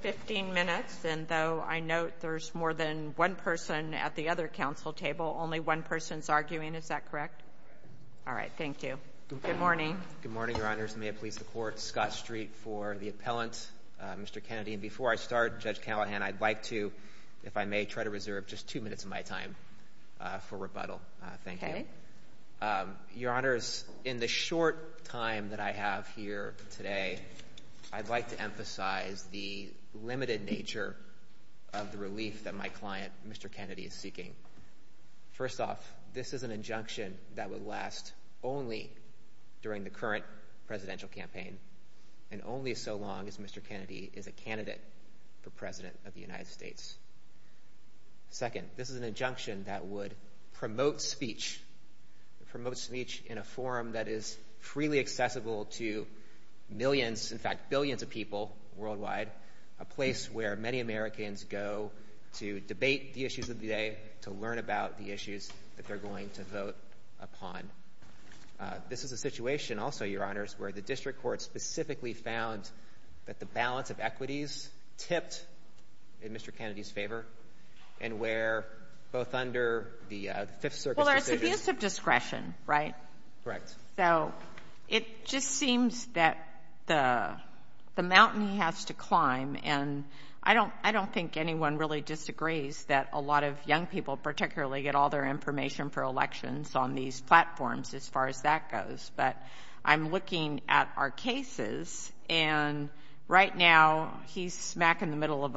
15 minutes, and though I note there's more than one person at the other council table, only one person's arguing. Is that correct? Correct. All right. Thank you. Good morning. Good morning, Your Honors. May it please the Court, Scott Street for the appellant, Mr. Kennedy. And before I start, Judge Callahan, I'd like to, if I may, try to reserve just two minutes of my time for rebuttal. Thank you. Okay. Your Honors, in the short time that I have here today, I'd like to emphasize the limited nature of the relief that my client, Mr. Kennedy, is seeking. First off, this is an injunction that would last only during the current presidential campaign, and only so long as Mr. Kennedy is a candidate for President of the United States. Second, this is an injunction that would promote speech, promote speech in a forum that is freely accessible to millions, in fact billions of people worldwide, a place where many Americans go to debate the issues of the day, to learn about the issues that they're going to vote upon. This is a situation also, Your Honors, where the district court specifically found that the balance of equities tipped in Mr. Kennedy's favor, and where both under the Fifth Circuit's decision Well, there's abuse of discretion, right? Correct. So it just seems that the mountain has to climb, and I don't think anyone really disagrees that a lot of young people particularly get all their information for elections on these platforms as far as that goes. But I'm looking at our cases, and right now he's smack in the middle of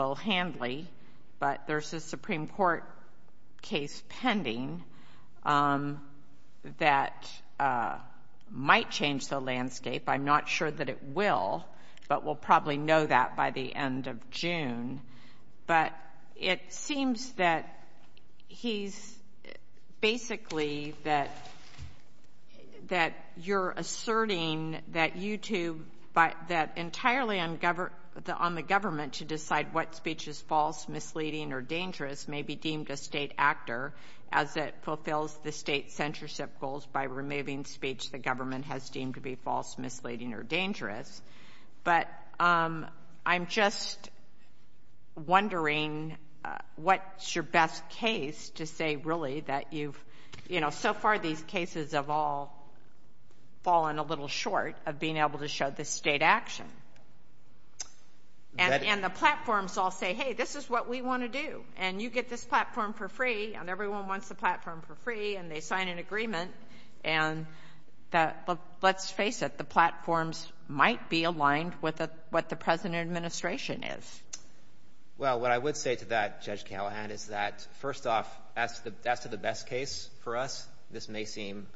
might change the landscape. I'm not sure that it will, but we'll probably know that by the end of June. But it seems that he's basically that you're asserting that you two, that entirely on the government to decide what speech is false, misleading, or dangerous may be deemed a state actor as it fulfills the state's censorship goals by removing speech the government has deemed to be false, misleading, or dangerous. But I'm just wondering what's your best case to say really that you've, you know, so far these cases have all fallen a little short of being able to show the state action. And the platforms all say, hey, this is what we want to do, and you get this platform for free, and everyone wants the platform for free, and they sign an agreement, and let's face it, the platforms might be aligned with what the present administration is. Well, what I would say to that, Judge Callahan, is that first off, that's the best case for us. This may seem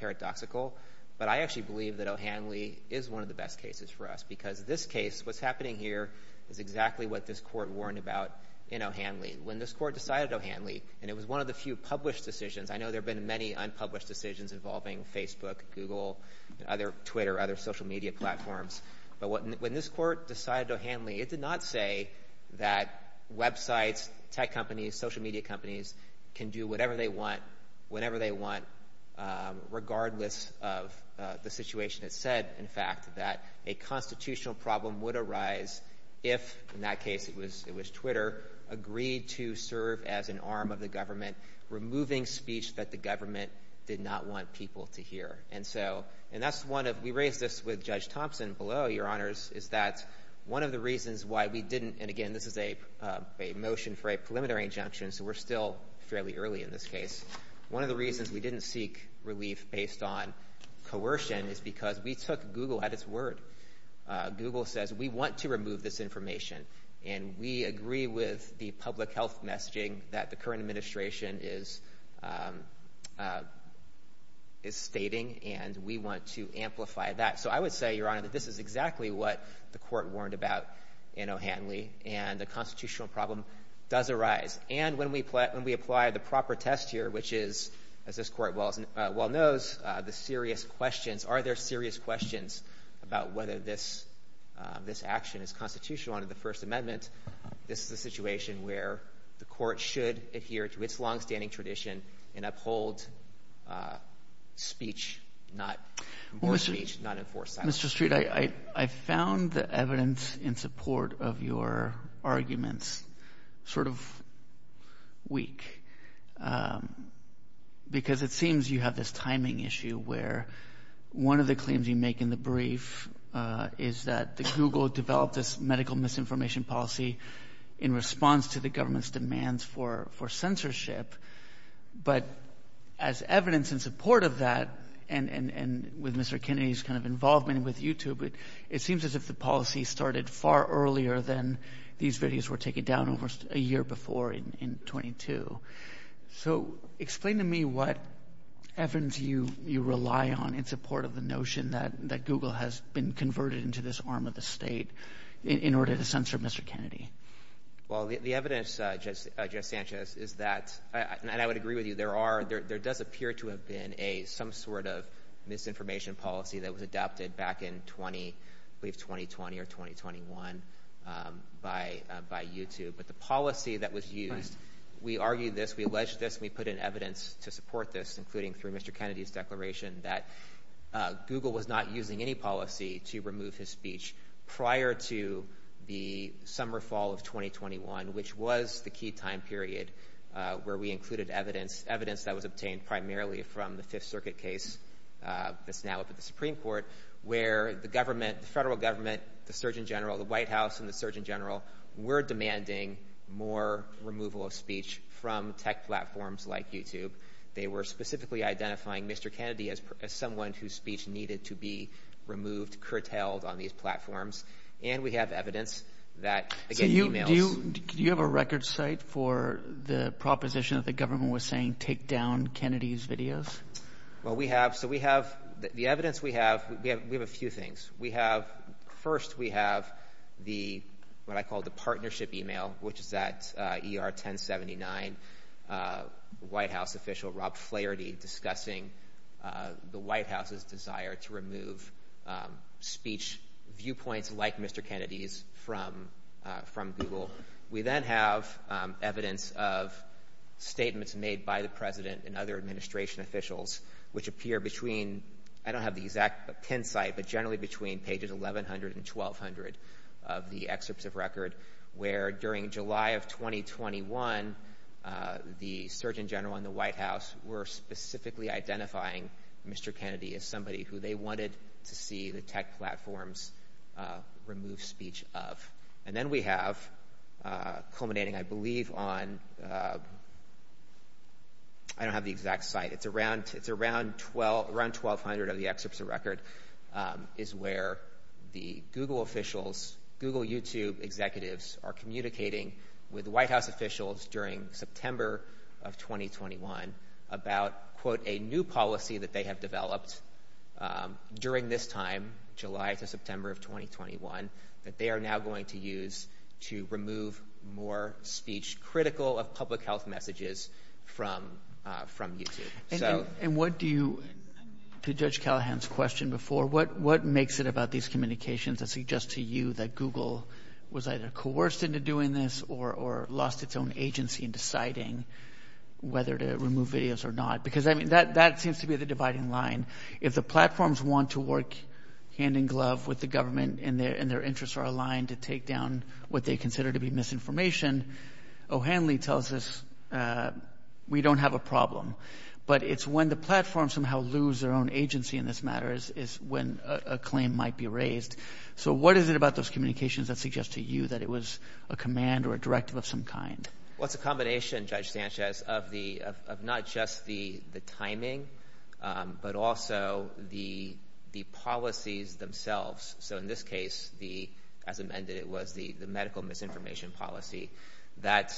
paradoxical, but I actually believe that O'Hanley is one of the best cases for us because this case, what's happening here is exactly what this court warned about in O'Hanley. When this court decided O'Hanley, and it was one of the few published decisions, I know there have been many unpublished decisions involving Facebook, Google, Twitter, other social media platforms, but when this court decided O'Hanley, it did not say that websites, tech companies, social media companies can do whatever they want, whenever they want, regardless of the situation. It said, in fact, that a constitutional problem would arise if, in that case it was Twitter, agreed to serve as an arm of the government, removing speech that the government did not want people to hear. And so, and that's one of, we raised this with Judge Thompson below, Your Honors, is that one of the reasons why we didn't, and again, this is a motion for a preliminary injunction, so we're still fairly early in this case, one of the reasons we didn't seek relief based on coercion is because we took Google at its word. Google says we want to remove this information, and we agree with the public health messaging that the current administration is stating, and we want to amplify that. So I would say, Your Honor, that this is exactly what the court warned about in O'Hanley, and a constitutional problem does arise. And when we apply the proper test here, which is, as this court well knows, the questions about whether this action is constitutional under the First Amendment, this is a situation where the court should adhere to its longstanding tradition and uphold speech, not enforce speech, not enforce silence. Mr. Street, I found the evidence in support of your arguments sort of weak, because it seems you have this timing issue where one of the claims you make in the brief is that Google developed this medical misinformation policy in response to the government's demands for censorship. But as evidence in support of that, and with Mr. Kennedy's kind of involvement with YouTube, it seems as if the policy started far earlier than these videos were taken down almost a year before in 22. So explain to me what evidence you rely on in support of the notion that Google has been converted into this arm of the state in order to censor Mr. Kennedy. Well, the evidence, Judge Sanchez, is that, and I would agree with you, there does appear to have been some sort of misinformation policy that was adopted back in, I believe, 2020 or 2021 by YouTube. But the policy that was used, we argued this, we alleged this, and we put in evidence to support this, including through Mr. Kennedy's declaration that Google was not using any policy to remove his speech prior to the summer, fall of 2021, which was the key time period where we included evidence, evidence that was obtained primarily from the Fifth Circuit case that's now up at the Supreme Court, where the government, the federal government, the Surgeon General, the White House and the Surgeon General were demanding more removal of speech from tech platforms like YouTube. They were specifically identifying Mr. Kennedy as someone whose speech needed to be removed, curtailed on these platforms. And we have evidence that, again, emails. Do you have a record site for the proposition that the government was saying take down Kennedy's videos? Well, we have, so we have, the evidence we have, we have a few things. We have, first we have the, what I call the partnership email, which is that ER 1079 White House official, Rob Flaherty, discussing the White House's desire to remove speech viewpoints like Mr. Kennedy's from Google. We then have evidence of statements made by the President and other administration officials, which appear between, I don't have the exact pin site, but generally between pages 1100 and 1200 of the excerpts of record, where during July of 2021, the Surgeon General and the White House were specifically identifying Mr. Kennedy as somebody who they wanted to see the tech platforms remove speech of. And then we have, culminating I believe on, I don't have the exact site, it's around 1200 of the excerpts of record, is where the Google officials, Google YouTube executives are communicating with White House officials during September of 2021 about, quote, a new policy that they have developed during this time, July to September of 2021, that they are now going to use to remove more speech critical of public health messages from YouTube. And what do you, to Judge Callahan's question before, what makes it about these communications that suggest to you that Google was either coerced into doing this or lost its own agency in deciding whether to remove videos or not? Because that seems to be the dividing line. If the platforms want to work hand in glove with the government and their interests are aligned to take down what they consider to be misinformation, O'Hanley tells us we don't have a problem. But it's when the platforms somehow lose their own agency in this matter is when a claim might be raised. So what is it about those communications that suggest to you that it was a command or a directive of some kind? Well, it's a combination, Judge Sanchez, of not just the timing, but also the policies themselves. So in this case, as amended, it was the medical misinformation policy. That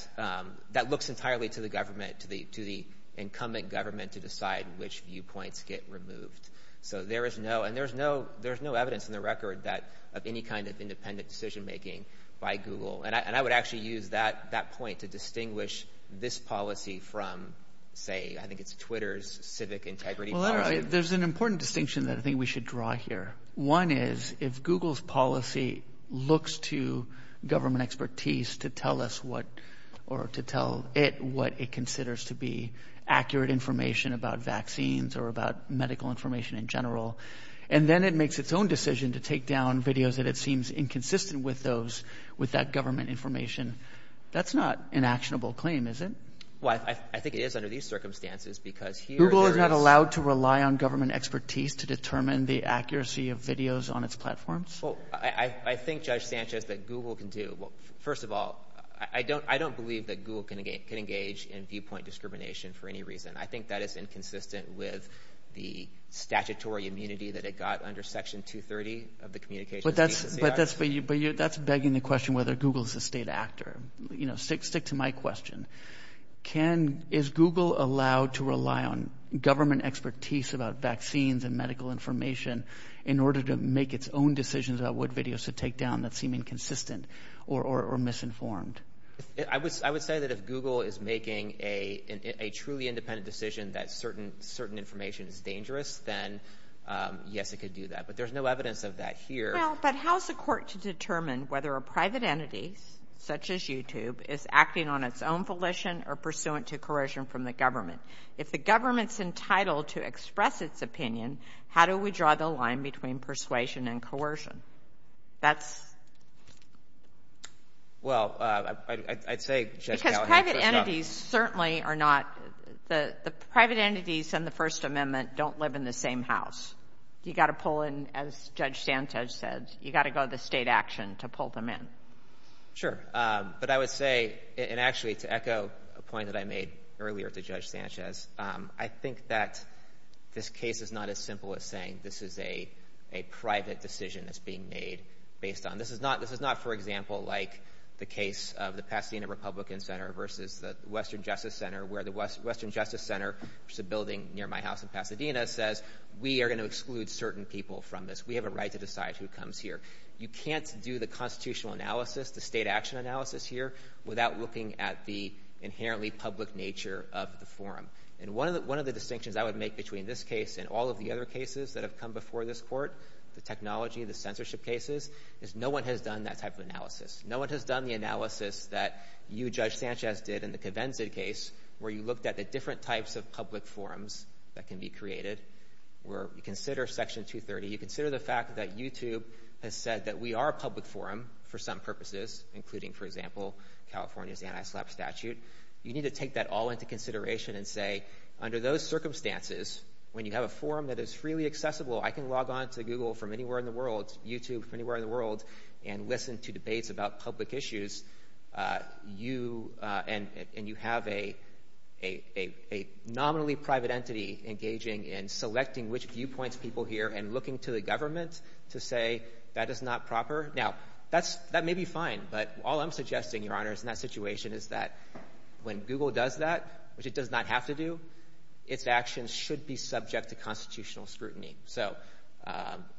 looks entirely to the government, to the incumbent government, to decide which viewpoints get removed. So there is no, and there's no evidence in the record of any kind of independent decision making by Google. And I would actually use that point to distinguish this policy from, say, I think it's Twitter's civic integrity policy. Well, there's an important distinction that I think we should draw here. One is if Google's policy looks to government expertise to tell us what, or to tell it what it considers to be accurate information about vaccines or about medical information in general, and then it makes its own decision to take down videos that it seems inconsistent with those, with that government information, that's not an actionable claim, is it? Well, I think it is under these circumstances because here it is. Google is not allowed to rely on government expertise to determine the accuracy of videos on its platforms. Well, I think, Judge Sanchez, that Google can do. First of all, I don't believe that Google can engage in viewpoint discrimination for any reason. I think that is inconsistent with the statutory immunity that it got under Section 230 of the Communications Act. But that's begging the question whether Google is a state actor. Stick to my question. Is Google allowed to rely on government expertise about vaccines and medical information in order to make its own decisions about what videos to take down that seem inconsistent or misinformed? I would say that if Google is making a truly independent decision that certain information is dangerous, then yes, it could do that. But there's no evidence of that here. Well, but how is the court to determine whether a private entity, such as YouTube, is acting on its own volition or pursuant to corrosion from the government? If the government's entitled to express its opinion, how do we draw the line between persuasion and coercion? That's... Well, I'd say, Judge Callahan... Because private entities certainly are not... The private entities in the First Amendment don't live in the same house. You've got to pull in, as Judge Sanchez said, you've got to go to the state action to pull them in. Sure. But I would say, and actually to echo a point that I made earlier to Judge Sanchez, I think that this case is not as simple as saying this is a private decision that's being made based on... This is not, for example, like the case of the Pasadena Republican Center versus the Western Justice Center, where the Western Justice Center, which is a building near my house in Pasadena, says, we are going to exclude certain people from this. We have a right to decide who comes here. You can't do the constitutional analysis, the state action analysis here, without looking at the inherently public nature of the forum. And one of the distinctions I would make between this case and all of the other cases that have come before this court, the technology, the censorship cases, is no one has done that type of analysis. No one has done the analysis that you, Judge Sanchez, did in the Covenzid case, where you looked at the different types of public forums that can be created, where you consider Section 230, you consider the fact that YouTube has said that we are a public forum for some purposes, including, for example, California's anti-slap statute. You need to take that all into consideration and say, under those circumstances, when you have a forum that is freely accessible, I can log on to Google from anywhere in the world, YouTube from anywhere in the world, and listen to debates about public issues, and you have a nominally private entity engaging in selecting which viewpoints people hear and looking to the government to say, that is not proper. Now, that may be fine, but all I'm suggesting, Your Honors, in that situation is that when Google does that, which it does not have to do, its actions should be subject to constitutional scrutiny. So,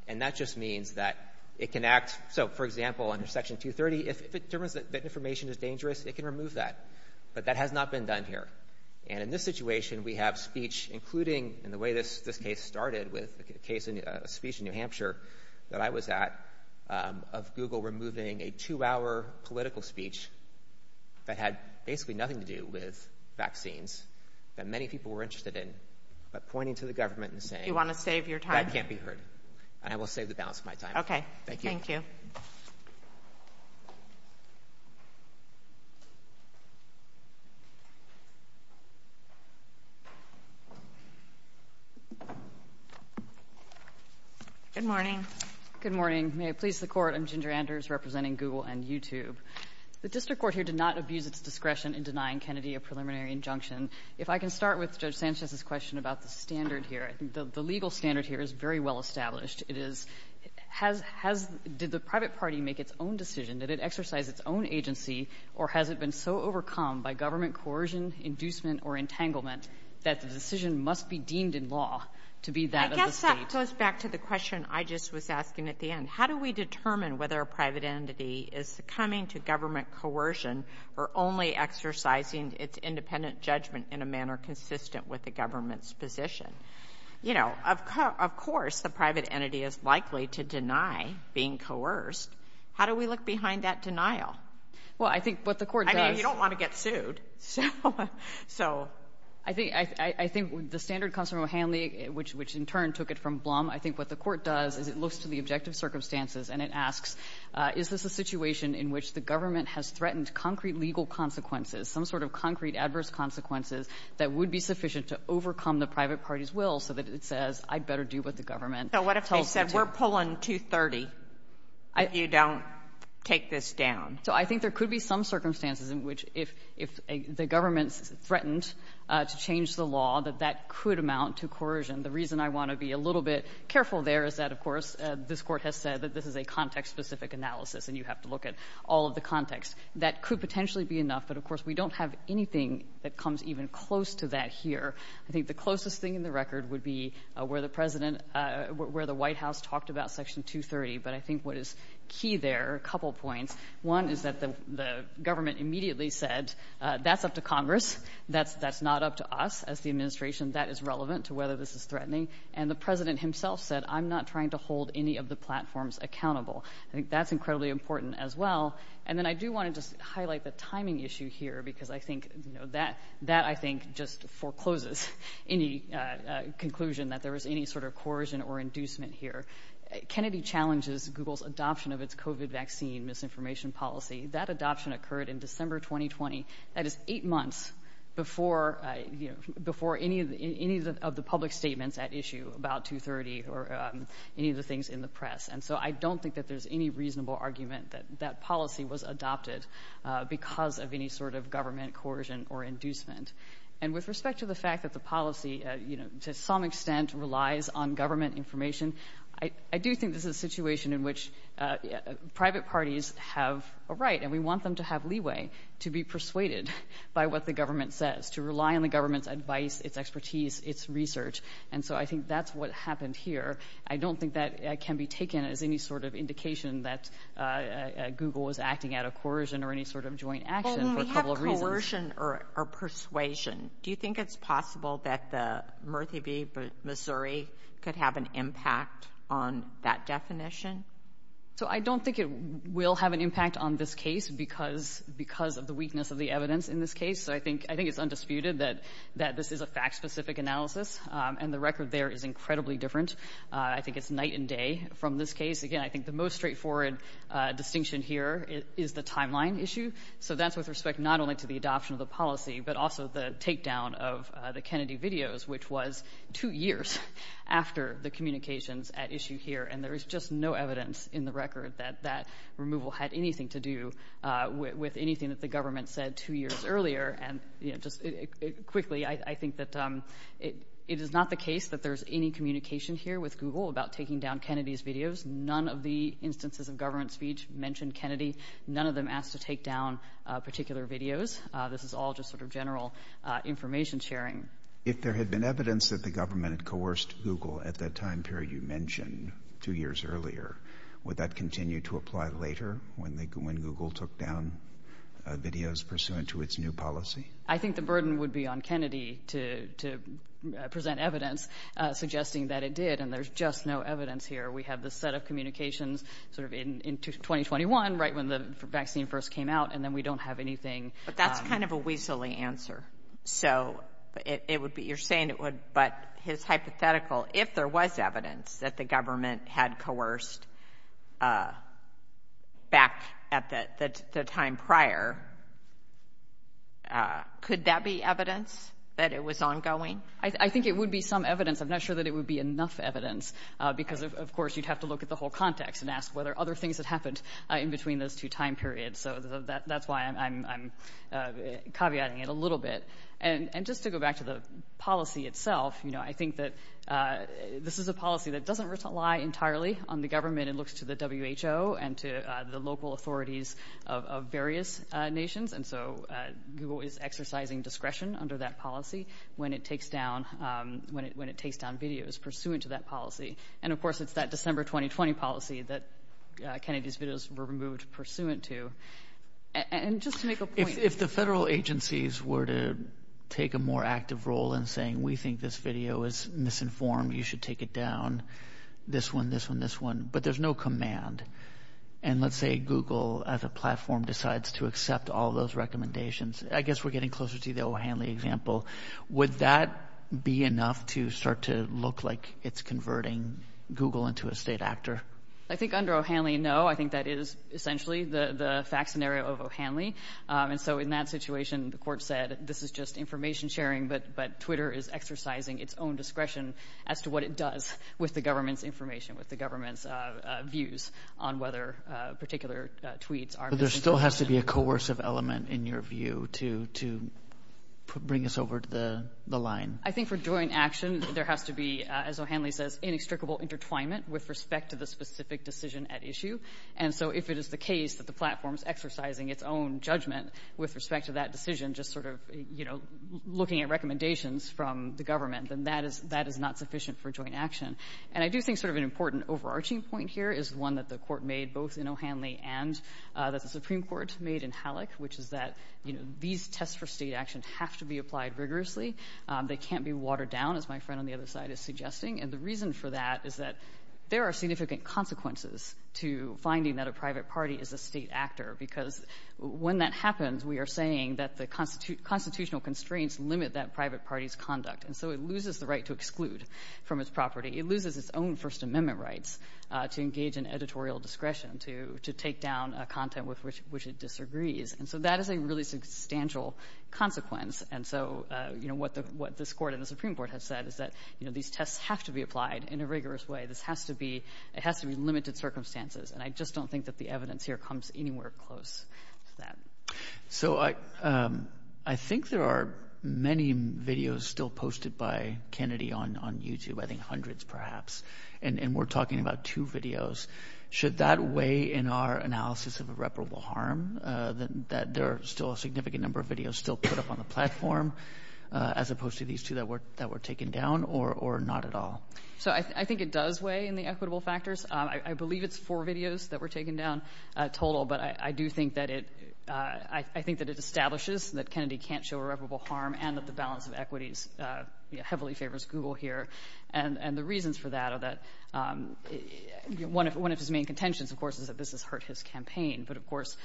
and that just means that it can act. So, for example, under Section 230, if it determines that information is dangerous, it can remove that. But that has not been done here. And in this situation, we have speech, including in the way this case started with a speech in New Hampshire that I was at, of Google removing a two-hour political speech that had basically nothing to do with vaccines, that many people were interested in, but pointing to the government and saying... You want to save your time? ...that can't be heard. And I will save the balance of my time. Okay. Thank you. Thank you. Good morning. Good morning. May it please the Court. I'm Ginger Anders representing Google and YouTube. The district court here did not abuse its discretion in denying Kennedy a preliminary injunction. If I can start with Judge Sanchez's question about the standard here. The legal standard here is very well established. It is, has the private party made its own decision, did it exercise its own agency, or has it been so overcome by government coercion, inducement, or entanglement that the decision must be deemed in law to be that of the State? That goes back to the question I just was asking at the end. How do we determine whether a private entity is succumbing to government coercion or only exercising its independent judgment in a manner consistent with the government's position? You know, of course the private entity is likely to deny being coerced. How do we look behind that denial? Well, I think what the Court does... I mean, you don't want to get sued, so... I think the standard comes from O'Hanley, which in turn took it from Blum. I think what the Court does is it looks to the objective circumstances and it asks, is this a situation in which the government has threatened concrete legal consequences, some sort of concrete adverse consequences that would be sufficient to overcome the private party's will so that it says, I'd better do what the government tells me to? So what if they said, we're pulling 230, and you don't take this down? So I think there could be some circumstances in which if the government's determined to change the law, that that could amount to coercion. The reason I want to be a little bit careful there is that, of course, this Court has said that this is a context-specific analysis and you have to look at all of the context. That could potentially be enough, but of course we don't have anything that comes even close to that here. I think the closest thing in the record would be where the President — where the White House talked about Section 230. But I think what is key there are a couple points. One is that the government immediately said, that's up to Congress. That's not up to us as the administration. That is relevant to whether this is threatening. And the President himself said, I'm not trying to hold any of the platforms accountable. I think that's incredibly important as well. And then I do want to just highlight the timing issue here because I think that, I think, just forecloses any conclusion that there was any sort of coercion or inducement here. Kennedy challenges Google's adoption of its COVID vaccine misinformation policy. That adoption occurred in December 2020. That is eight months before, you know, before any of the public statements at issue about 230 or any of the things in the press. And so I don't think that there's any reasonable argument that that policy was adopted because of any sort of government coercion or inducement. And with respect to the fact that the policy, you know, to some extent relies on government information, I do think this is a situation in which private parties have a right and we want them to have leeway to be persuaded by what the government says, to rely on the government's advice, its expertise, its research. And so I think that's what happened here. I don't think that can be taken as any sort of indication that Google was acting out of coercion or any sort of joint action for a couple of reasons. Well, when we have coercion or persuasion, do you think it's possible that the Murthy v. Missouri could have an impact on that definition? So I don't think it will have an impact on this case because of the weakness of the evidence in this case. So I think it's undisputed that this is a fact-specific analysis. And the record there is incredibly different. I think it's night and day from this case. Again, I think the most straightforward distinction here is the timeline issue. So that's with respect not only to the adoption of the policy but also the takedown of the Kennedy videos, which was two years after the communications at issue here. And there is just no evidence in the record that that removal had anything to do with anything that the government said two years earlier. And just quickly, I think that it is not the case that there's any communication here with Google about taking down Kennedy's videos. None of the instances of government speech mention Kennedy. None of them ask to take down particular videos. This is all just sort of general information sharing. If there had been evidence that the government had coerced Google at that time period you mentioned two years earlier, would that continue to apply later when Google took down videos pursuant to its new policy? I think the burden would be on Kennedy to present evidence suggesting that it did, and there's just no evidence here. We have this set of communications sort of in 2021, right when the vaccine first came out, and then we don't have anything. But that's kind of a weaselly answer. So it would be you're saying it would, but his hypothetical, if there was evidence that the government had coerced back at the time prior, could that be evidence that it was ongoing? I think it would be some evidence. I'm not sure that it would be enough evidence, because, of course, you'd have to look at the whole context and ask whether other things had happened in between those two time periods. So that's why I'm caveating it a little bit. And just to go back to the policy itself, you know, I think that this is a policy that doesn't rely entirely on the government. It looks to the WHO and to the local authorities of various nations, and so Google is exercising discretion under that policy when it takes down videos pursuant to that policy. And, of course, it's that December 2020 policy that Kennedy's videos were removed pursuant to. And just to make a point. If the federal agencies were to take a more active role in saying we think this video is misinformed, you should take it down, this one, this one, this one, but there's no command. And let's say Google as a platform decides to accept all those recommendations. I guess we're getting closer to the O'Hanley example. Would that be enough to start to look like it's converting Google into a state actor? I think under O'Hanley, no. I think that is essentially the fact scenario of O'Hanley. And so in that situation, the court said this is just information sharing, but Twitter is exercising its own discretion as to what it does with the government's information, with the government's views on whether particular tweets are misinformation. But there still has to be a coercive element, in your view, to bring us over to the line. I think for joint action, there has to be, as O'Hanley says, inextricable intertwinement with respect to the specific decision at issue. And so if it is the case that the platform is exercising its own judgment with respect to that decision, just sort of, you know, looking at recommendations from the government, then that is not sufficient for joint action. And I do think sort of an important overarching point here is one that the Court made both in O'Hanley and that the Supreme Court made in Halleck, which is that, you know, these tests for state action have to be applied rigorously. They can't be watered down, as my friend on the other side is suggesting. And the reason for that is that there are significant consequences to finding that a private party is a state actor, because when that happens, we are saying that the constitutional constraints limit that private party's conduct. And so it loses the right to exclude from its property. It loses its own First Amendment rights to engage in editorial discretion, to take down content with which it disagrees. And so that is a really substantial consequence. And so, you know, what this Court and the Supreme Court have said is that, you know, these tests have to be applied in a rigorous way. This has to be limited circumstances. And I just don't think that the evidence here comes anywhere close to that. So I think there are many videos still posted by Kennedy on YouTube, I think hundreds perhaps. And we're talking about two videos. Should that weigh in our analysis of irreparable harm, that there are still a significant number of videos still put up on the platform as opposed to these two that were taken down, or not at all? So I think it does weigh in the equitable factors. I believe it's four videos that were taken down total. But I do think that it establishes that Kennedy can't show irreparable harm and that the balance of equities heavily favors Google here. And the reasons for that are that one of his main contentions, of course, is that this has hurt his campaign. But, of course,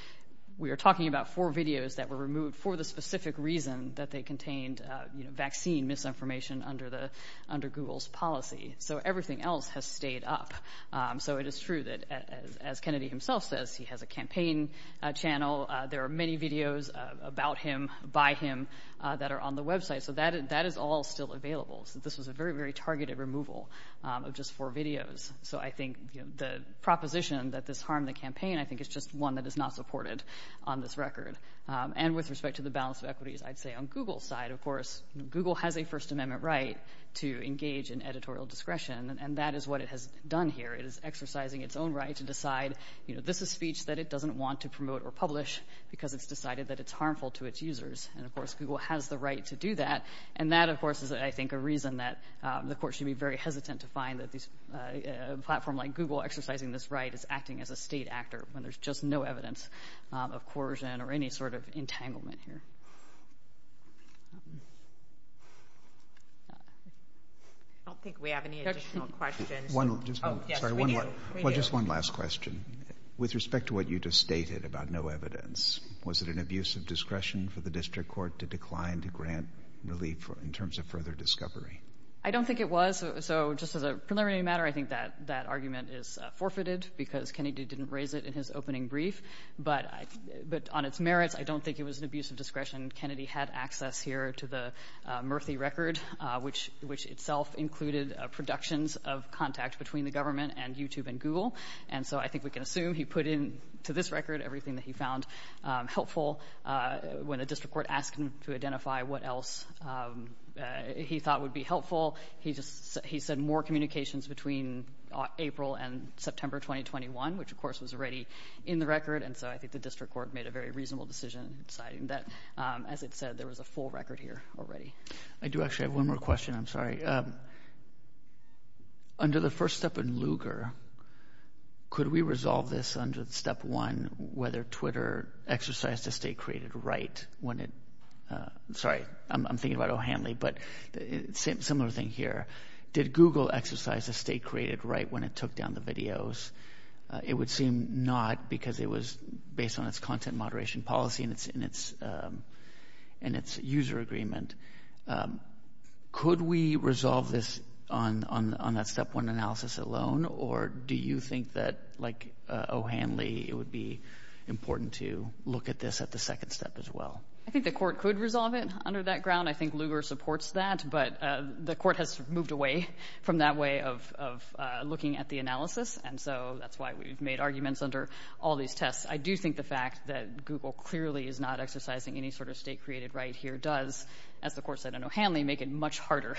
we are talking about four videos that were removed for the specific reason that they contained vaccine misinformation under Google's policy. So everything else has stayed up. So it is true that, as Kennedy himself says, he has a campaign channel. There are many videos about him, by him, that are on the website. So that is all still available. This was a very, very targeted removal of just four videos. So I think the proposition that this harmed the campaign, I think it's just one that is not supported on this record. And with respect to the balance of equities, I'd say on Google's side, of course, Google has a First Amendment right to engage in editorial discretion, and that is what it has done here. It is exercising its own right to decide, you know, this is speech that it doesn't want to promote or publish because it's decided that it's harmful to its users. And, of course, Google has the right to do that. And that, of course, is, I think, a reason that the court should be very hesitant to find that a platform like Google exercising this right is acting as a state actor when there's just no evidence of coercion or any sort of entanglement here. I don't think we have any additional questions. Just one last question. With respect to what you just stated about no evidence, was it an abuse of discretion for the district court to decline to grant relief in terms of further discovery? I don't think it was. So just as a preliminary matter, I think that argument is forfeited because Kennedy didn't raise it in his opening brief. But on its merits, I don't think it was an abuse of discretion. Kennedy had access here to the Murphy record, which itself included productions of contact between the government and YouTube and Google. And so I think we can assume he put into this record everything that he found helpful when the district court asked him to identify what else he thought would be helpful. He said more communications between April and September 2021, which, of course, was already in the record. And so I think the district court made a very reasonable decision in deciding that, as it said, there was a full record here already. I do actually have one more question. I'm sorry. Under the first step in Lugar, could we resolve this under step one, whether Twitter exercised a state-created right when it— Did Google exercise a state-created right when it took down the videos? It would seem not because it was based on its content moderation policy and its user agreement. Could we resolve this on that step one analysis alone, or do you think that, like O'Hanley, it would be important to look at this at the second step as well? I think the court could resolve it under that ground. I think Lugar supports that, but the court has moved away from that way of looking at the analysis, and so that's why we've made arguments under all these tests. I do think the fact that Google clearly is not exercising any sort of state-created right here does, as the court said in O'Hanley, make it much harder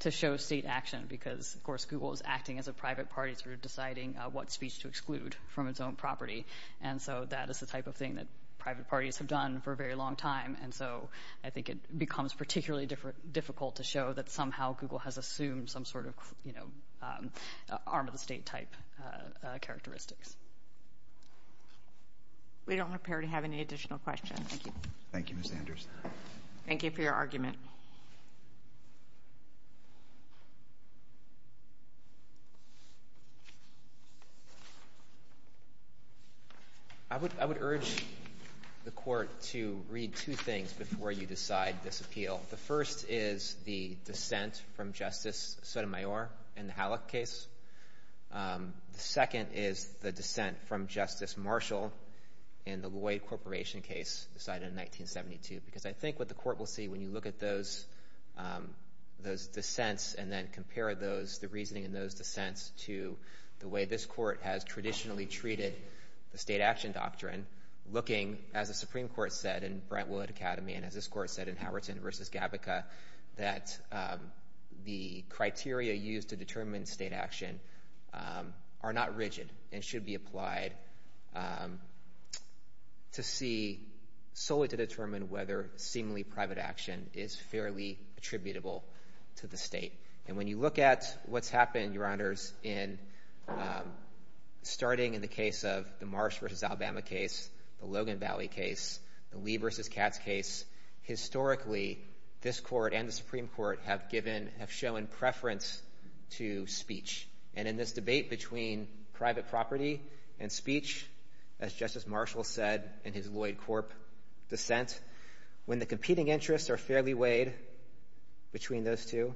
to show state action because, of course, Google is acting as a private party through deciding what speech to exclude from its own property. And so that is the type of thing that private parties have done for a very long time, and so I think it becomes particularly difficult to show that somehow Google has assumed some sort of arm-of-the-state type characteristics. We don't appear to have any additional questions. Thank you. Thank you, Ms. Anders. Thank you for your argument. Thank you. I would urge the court to read two things before you decide this appeal. The first is the dissent from Justice Sotomayor in the Hallock case. The second is the dissent from Justice Marshall in the Lloyd Corporation case decided in 1972 because I think what the court will see when you look at those dissents and then compare those, the reasoning in those dissents, to the way this court has traditionally treated the state action doctrine, looking, as the Supreme Court said in Brentwood Academy and as this court said in Howerton v. Gavica, that the criteria used to determine state action are not rigid and should be applied solely to determine whether seemingly private action is fairly attributable to the state. And when you look at what's happened, Your Honors, starting in the case of the Marsh v. Alabama case, the Logan Valley case, the Lee v. Katz case, historically this court and the Supreme Court have shown preference to speech. And in this debate between private property and speech, as Justice Marshall said in his Lloyd Corp. dissent, when the competing interests are fairly weighed between those two,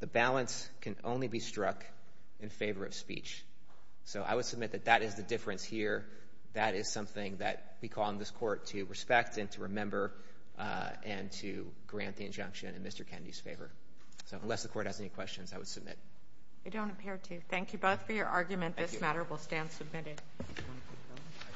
the balance can only be struck in favor of speech. So I would submit that that is the difference here. That is something that we call on this court to respect and to remember and to grant the injunction in Mr. Kennedy's favor. So unless the court has any questions, I would submit. I don't appear to. Thank you both for your argument. This matter will stand submitted.